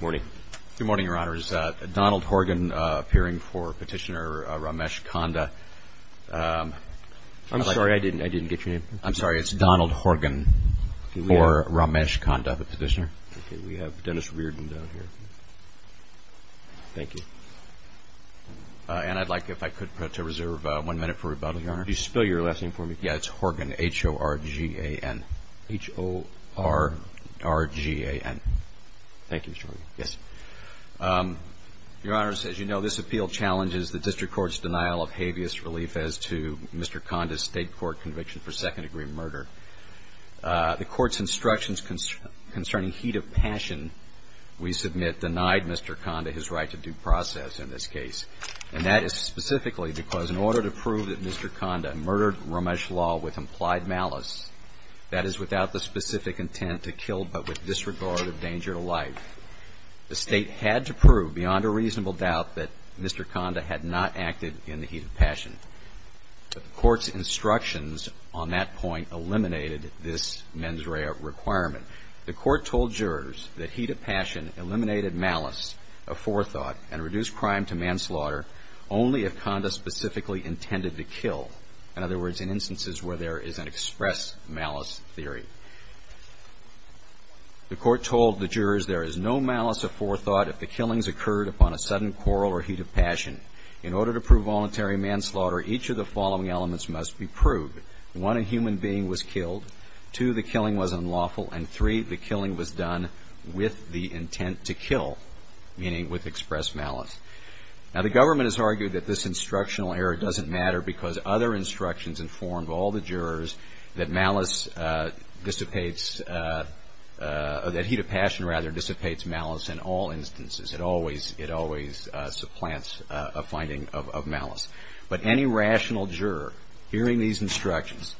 Good morning, Your Honors. Donald Horgan, peering for Petitioner Ramesh Kanda. I'm sorry, I didn't get your name. I'm sorry, it's Donald Horgan for Ramesh Kanda, the petitioner. Okay, we have Dennis Reardon down here. Thank you. And I'd like, if I could, to reserve one minute for rebuttal, Your Honor. Could you spell your last name for me? Yeah, it's Horgan, H-O-R-G-A-N. H-O-R-G-A-N. Thank you, Mr. Horgan. Yes. Your Honor, as you know, this appeal challenges the district court's denial of habeas relief as to Mr. Kanda's state court conviction for second-degree murder. The court's instructions concerning heat of passion, we submit, denied Mr. Kanda his right to due process in this case. And that is specifically because in order to prove that Mr. Kanda murdered Ramesh Lal with implied malice, that is, without the specific intent to kill but with disregard of danger to life, the State had to prove beyond a reasonable doubt that Mr. Kanda had not acted in the heat of passion. But the court's instructions on that point eliminated this mens rea requirement. The court told jurors that heat of passion eliminated malice of forethought and reduced crime to manslaughter only if Kanda specifically intended to kill, in other words, in instances where there is an express malice theory. The court told the jurors there is no malice of forethought if the killings occurred upon a sudden quarrel or heat of passion. In order to prove voluntary manslaughter, each of the following elements must be proved. One, a human being was killed. Two, the killing was unlawful. And three, the killing was done with the intent to kill, meaning with express malice. Now, the government has argued that this instructional error doesn't matter because other instructions informed all the jurors that malice dissipates or that heat of passion, rather, dissipates malice in all instances. It always supplants a finding of malice. But any rational juror hearing these instructions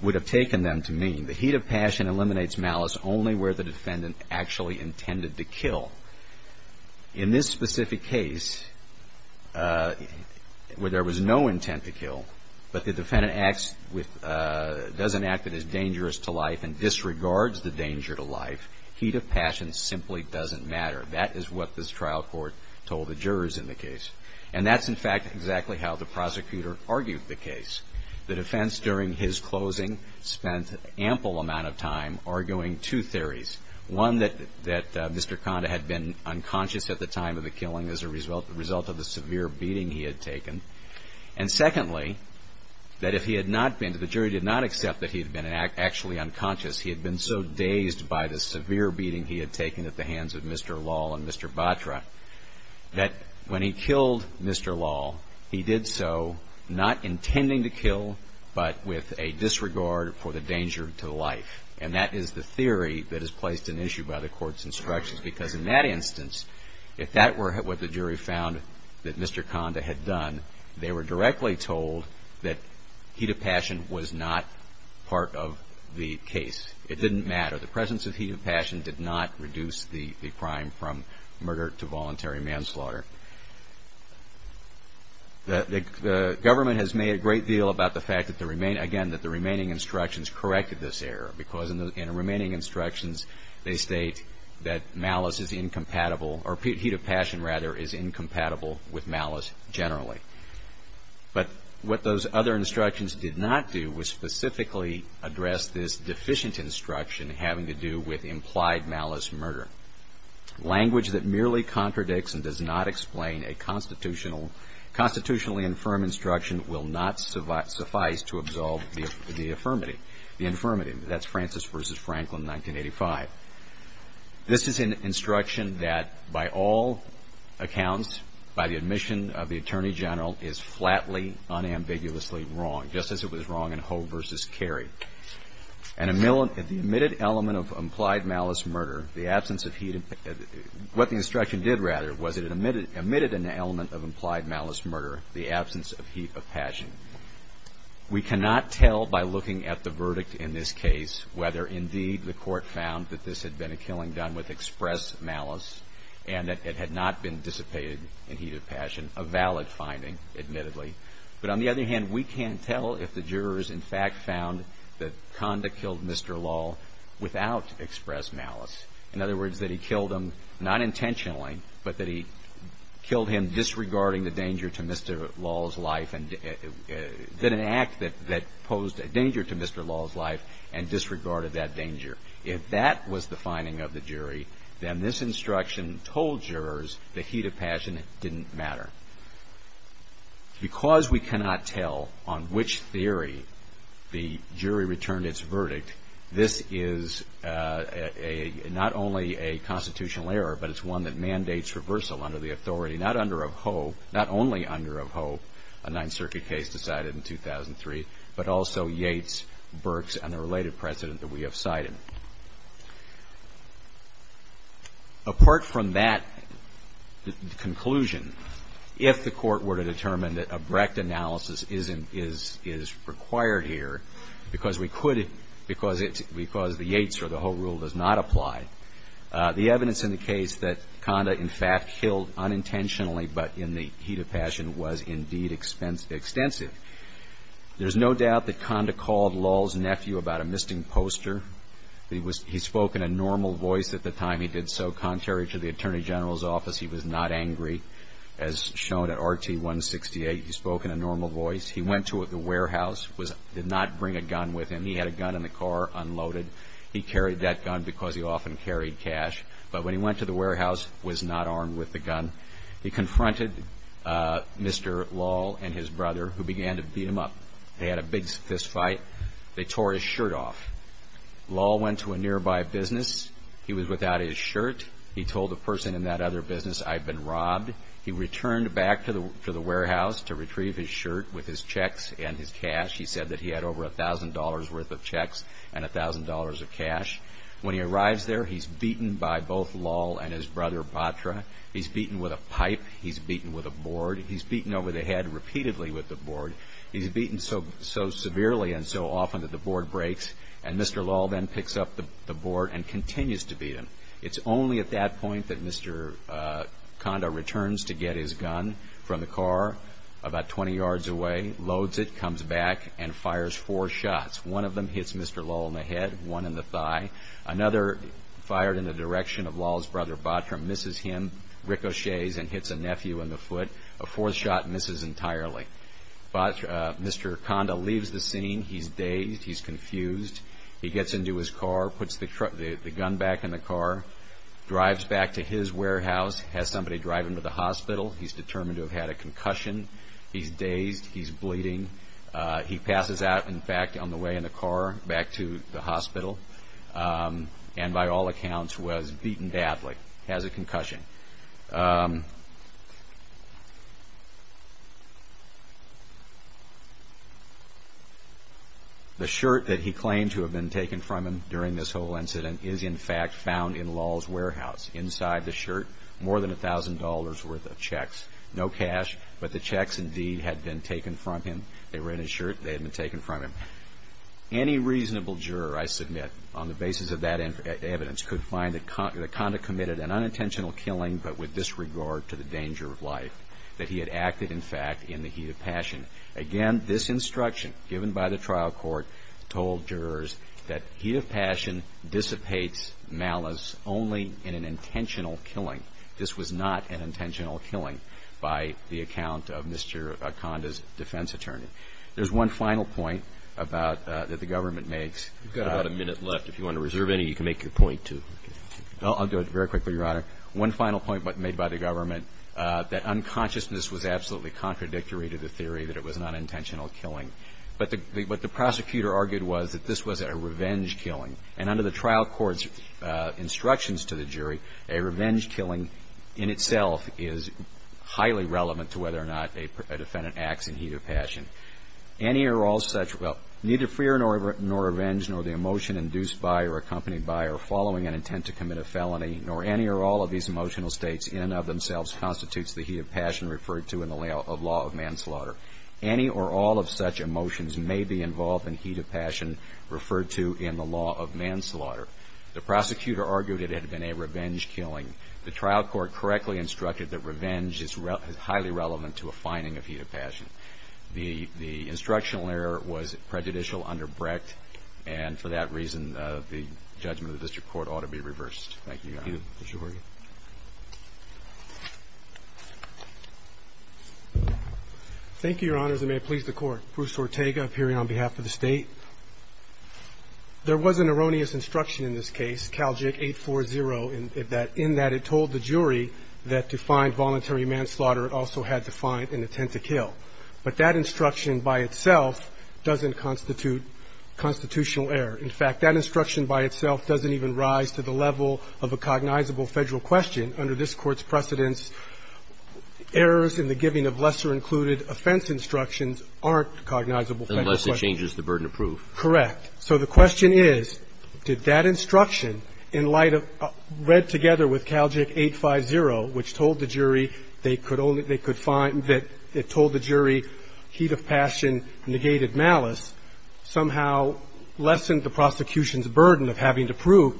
would have taken them to mean the heat of passion eliminates malice only where the defendant actually intended to kill. In this specific case, where there was no intent to kill, but the defendant doesn't act that is dangerous to life and disregards the danger to life, heat of passion simply doesn't matter. That is what this trial court told the jurors in the case. And that's, in fact, exactly how the prosecutor argued the case. The defense, during his closing, spent an ample amount of time arguing two theories. One, that Mr. Conda had been unconscious at the time of the killing as a result of the severe beating he had taken. And secondly, that if he had not been, the jury did not accept that he had been actually unconscious. He had been so dazed by the severe beating he had taken at the hands of Mr. Law and Mr. Batra, that when he killed Mr. Law, he did so not intending to kill, but with a disregard for the danger to life. And that is the theory that is placed in issue by the court's instructions, because in that instance, if that were what the jury found that Mr. Conda had done, they were directly told that heat of passion was not part of the case. It didn't matter. The presence of heat of passion did not reduce the crime from murder to voluntary manslaughter. The government has made a great deal about the fact that the remaining instructions corrected this error, because in the remaining instructions, they state that heat of passion is incompatible with malice generally. But what those other instructions did not do was specifically address this deficient instruction having to do with implied malice murder. Language that merely contradicts and does not explain a constitutionally infirm instruction will not suffice to absolve the infirmity. That's Francis v. Franklin, 1985. This is an instruction that by all accounts, by the admission of the Attorney General, is flatly, unambiguously wrong, just as it was wrong in Hogue v. Carey. What the instruction did, rather, was it omitted an element of implied malice murder, the absence of heat of passion. We cannot tell by looking at the verdict in this case whether, indeed, the court found that this had been a killing done with expressed malice and that it had not been dissipated in heat of passion, a valid finding, admittedly. But on the other hand, we can't tell if the jurors, in fact, found that Conda killed Mr. Law without expressed malice. In other words, that he killed him not intentionally, but that he killed him disregarding the danger to Mr. Law's life and did an act that posed a danger to Mr. Law's life and disregarded that danger. If that was the finding of the jury, then this instruction told jurors the heat of passion didn't matter. Because we cannot tell on which theory the jury returned its verdict, this is not only a constitutional error, but it's one that mandates reversal under the authority, not only under Hogue, a Ninth Circuit case decided in 2003, but also Yates, Birx, and the related precedent that we have cited. Apart from that conclusion, if the court were to determine that a Brecht analysis is required here, because we could, because the Yates or the Hogue rule does not apply, the evidence in the case that Conda, in fact, killed unintentionally, but in the heat of passion, was, indeed, extensive. There's no doubt that Conda called Law's nephew about a misting poster. He spoke in a normal voice at the time he did so, contrary to the Attorney General's office. He was not angry, as shown at RT-168. He spoke in a normal voice. He went to the warehouse, did not bring a gun with him. He had a gun in the car, unloaded. He carried that gun because he often carried cash. But when he went to the warehouse, was not armed with the gun. He confronted Mr. Law and his brother, who began to beat him up. They had a big fist fight. They tore his shirt off. Law went to a nearby business. He was without his shirt. He told the person in that other business, I've been robbed. He returned back to the warehouse to retrieve his shirt with his checks and his cash. He said that he had over $1,000 worth of checks and $1,000 of cash. When he arrives there, he's beaten by both Law and his brother, Batra. He's beaten with a pipe. He's beaten with a board. He's beaten over the head repeatedly with the board. He's beaten so severely and so often that the board breaks. And Mr. Law then picks up the board and continues to beat him. It's only at that point that Mr. Conda returns to get his gun from the car about 20 yards away. He loads it, comes back, and fires four shots. One of them hits Mr. Law in the head, one in the thigh. Another fired in the direction of Law's brother, Batra, misses him, ricochets, and hits a nephew in the foot. A fourth shot misses entirely. Mr. Conda leaves the scene. He's dazed. He's confused. He gets into his car, puts the gun back in the car, drives back to his warehouse, has somebody drive him to the hospital. He's determined to have had a concussion. He's dazed. He's bleeding. He passes out, in fact, on the way in the car back to the hospital, and by all accounts was beaten badly, has a concussion. The shirt that he claimed to have been taken from him during this whole incident is, in fact, found in Law's warehouse. Inside the shirt, more than $1,000 worth of checks. No cash, but the checks indeed had been taken from him. They were in his shirt. They had been taken from him. Any reasonable juror, I submit, on the basis of that evidence, could find that Conda committed an unintentional killing, but with disregard to the danger of life, that he had acted, in fact, in the heat of passion. Again, this instruction given by the trial court told jurors that heat of passion dissipates malice only in an intentional killing. This was not an intentional killing by the account of Mr. Conda's defense attorney. There's one final point that the government makes. We've got about a minute left. If you want to reserve any, you can make your point, too. I'll do it very quickly, Your Honor. One final point made by the government, that unconsciousness was absolutely contradictory to the theory that it was an unintentional killing. But what the prosecutor argued was that this was a revenge killing. And under the trial court's instructions to the jury, a revenge killing in itself is highly relevant to whether or not a defendant acts in heat of passion. Any or all such, well, neither fear nor revenge, nor the emotion induced by or accompanied by or following an intent to commit a felony, nor any or all of these emotional states in and of themselves constitutes the heat of passion referred to in the law of manslaughter. Any or all of such emotions may be involved in heat of passion referred to in the law of manslaughter. The prosecutor argued it had been a revenge killing. The trial court correctly instructed that revenge is highly relevant to a finding of heat of passion. The instructional error was prejudicial, underbreaked, and for that reason, the judgment of the district court ought to be reversed. Thank you, Your Honor. Thank you, Your Honors, and may it please the Court. Bruce Ortega, appearing on behalf of the State. There was an erroneous instruction in this case, Cal Jig 840, in that it told the jury that to find voluntary manslaughter, it also had to find an intent to kill. But that instruction by itself doesn't constitute constitutional error. In fact, that instruction by itself doesn't even rise to the level of a cognizable Federal question. Under this Court's precedence, errors in the giving of lesser included offense instructions aren't cognizable Federal questions. Unless it changes the burden of proof. Correct. So the question is, did that instruction, in light of read together with Cal Jig 850, which told the jury they could only they could find that it told the jury heat of passion negated malice, somehow lessened the prosecution's burden of having to prove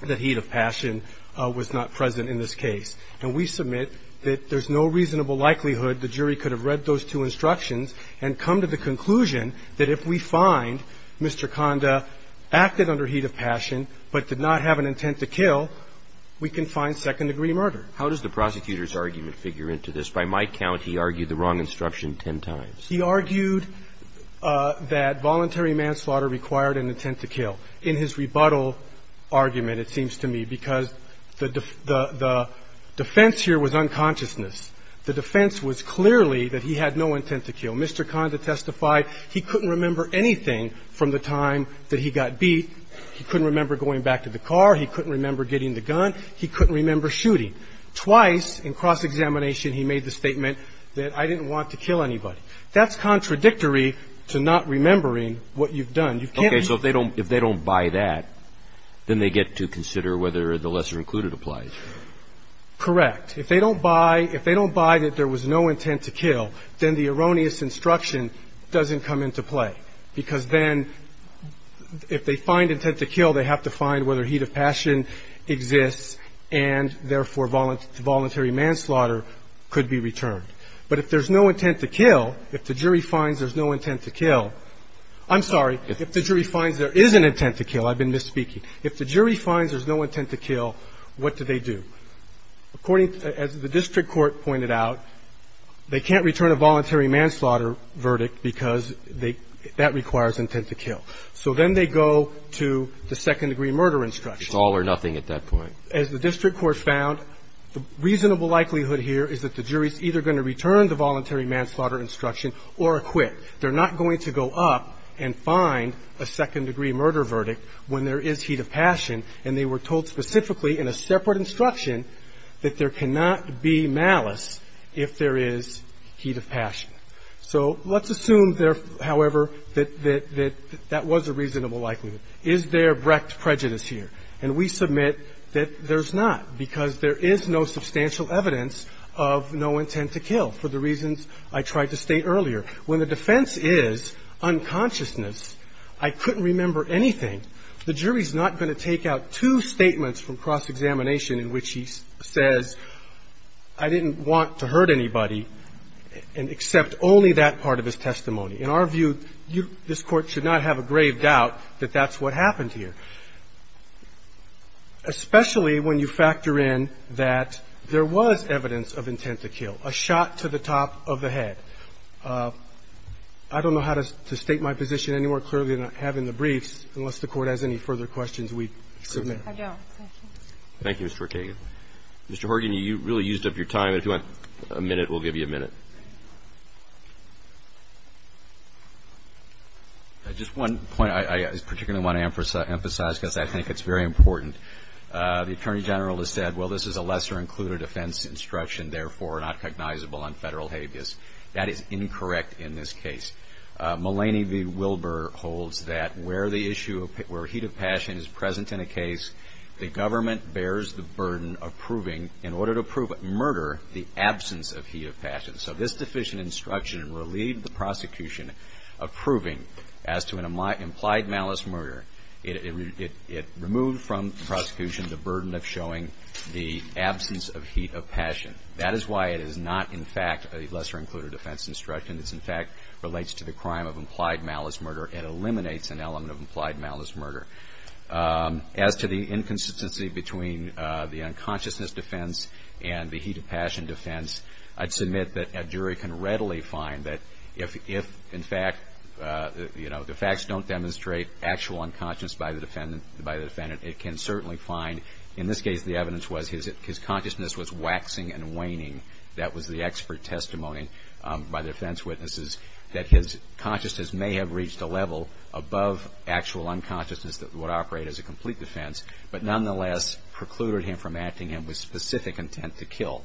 that heat of passion was not present in this case. And we submit that there's no reasonable likelihood the jury could have read those two instructions and come to the conclusion that if we find Mr. Conda acted under heat of passion but did not have an intent to kill, we can find second-degree murder. How does the prosecutor's argument figure into this? By my count, he argued the wrong instruction ten times. He argued that voluntary manslaughter required an intent to kill. In his rebuttal argument, it seems to me, because the defense here was unconsciousness. The defense was clearly that he had no intent to kill. Mr. Conda testified he couldn't remember anything from the time that he got beat. He couldn't remember going back to the car. He couldn't remember getting the gun. He couldn't remember shooting. Twice, in cross-examination, he made the statement that I didn't want to kill anybody. That's contradictory to not remembering what you've done. You can't remember. Okay. So if they don't buy that, then they get to consider whether the lesser included applies. Correct. If they don't buy that there was no intent to kill, then the erroneous instruction doesn't come into play, because then if they find intent to kill, they have to find whether there is. If the jury finds there is no intent to kill, then they have to find whether there is intent to kill. I'm sorry, if the jury finds there is an intent to kill, I've been misspeaking, if the jury finds there's no intent to kill, what do they do? According to the district court pointed out, they can't return a voluntary manslaughter verdict because that requires an intent to kill. So then they go to the second degree murder instruction. It's all or nothing at that point. As the district court found, the reasonable likelihood here is that the jury is either going to return the voluntary manslaughter instruction or acquit. They're not going to go up and find a second degree murder verdict when there is heat of passion, and they were told specifically in a separate instruction that there cannot be malice if there is heat of passion. So let's assume, however, that that was a reasonable likelihood. Is there brecht prejudice here? And we submit that there's not because there is no substantial evidence of no intent to kill for the reasons I tried to state earlier. When the defense is unconsciousness, I couldn't remember anything, the jury is not going to take out two statements from cross-examination in which he says I didn't want to hurt anybody and accept only that part of his testimony. In our view, this Court should not have a grave doubt that that's what happened here, especially when you factor in that there was evidence of intent to kill, a shot to the top of the head. I don't know how to state my position any more clearly than I have in the briefs unless the Court has any further questions we submit. I don't. Thank you. Thank you, Mr. Ortega. Thank you. Mr. Horgan, you really used up your time. If you want a minute, we'll give you a minute. Just one point I particularly want to emphasize because I think it's very important. The Attorney General has said, well, this is a lesser-included offense instruction, therefore not cognizable on federal habeas. That is incorrect in this case. Mulaney v. Wilbur holds that where the issue of heat of passion is present in a case, the government bears the burden of proving, in order to prove murder, the absence of heat of passion. So this deficient instruction relieved the prosecution of proving as to an implied malice murder. It removed from the prosecution the burden of showing the absence of heat of passion. That is why it is not, in fact, a lesser-included offense instruction. This, in fact, relates to the crime of implied malice murder and eliminates an element of implied malice murder. As to the inconsistency between the unconsciousness defense and the heat of passion defense, I'd submit that a jury can readily find that if, in fact, the facts don't demonstrate actual unconsciousness by the defendant, it can certainly find, in this case, the evidence was his consciousness was waxing and waning. That was the expert testimony by the defense witnesses, that his consciousness may have reached a level above actual unconsciousness that would operate as a complete defense, but nonetheless precluded him from acting with specific intent to kill.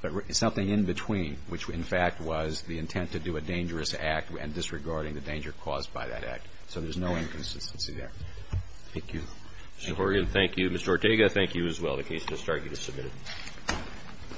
But something in between, which, in fact, was the intent to do a dangerous act and disregarding the danger caused by that act. So there's no inconsistency there. Thank you. Mr. Horgan, thank you. Mr. Ortega, thank you as well. The case has started. It is submitted. Thank you.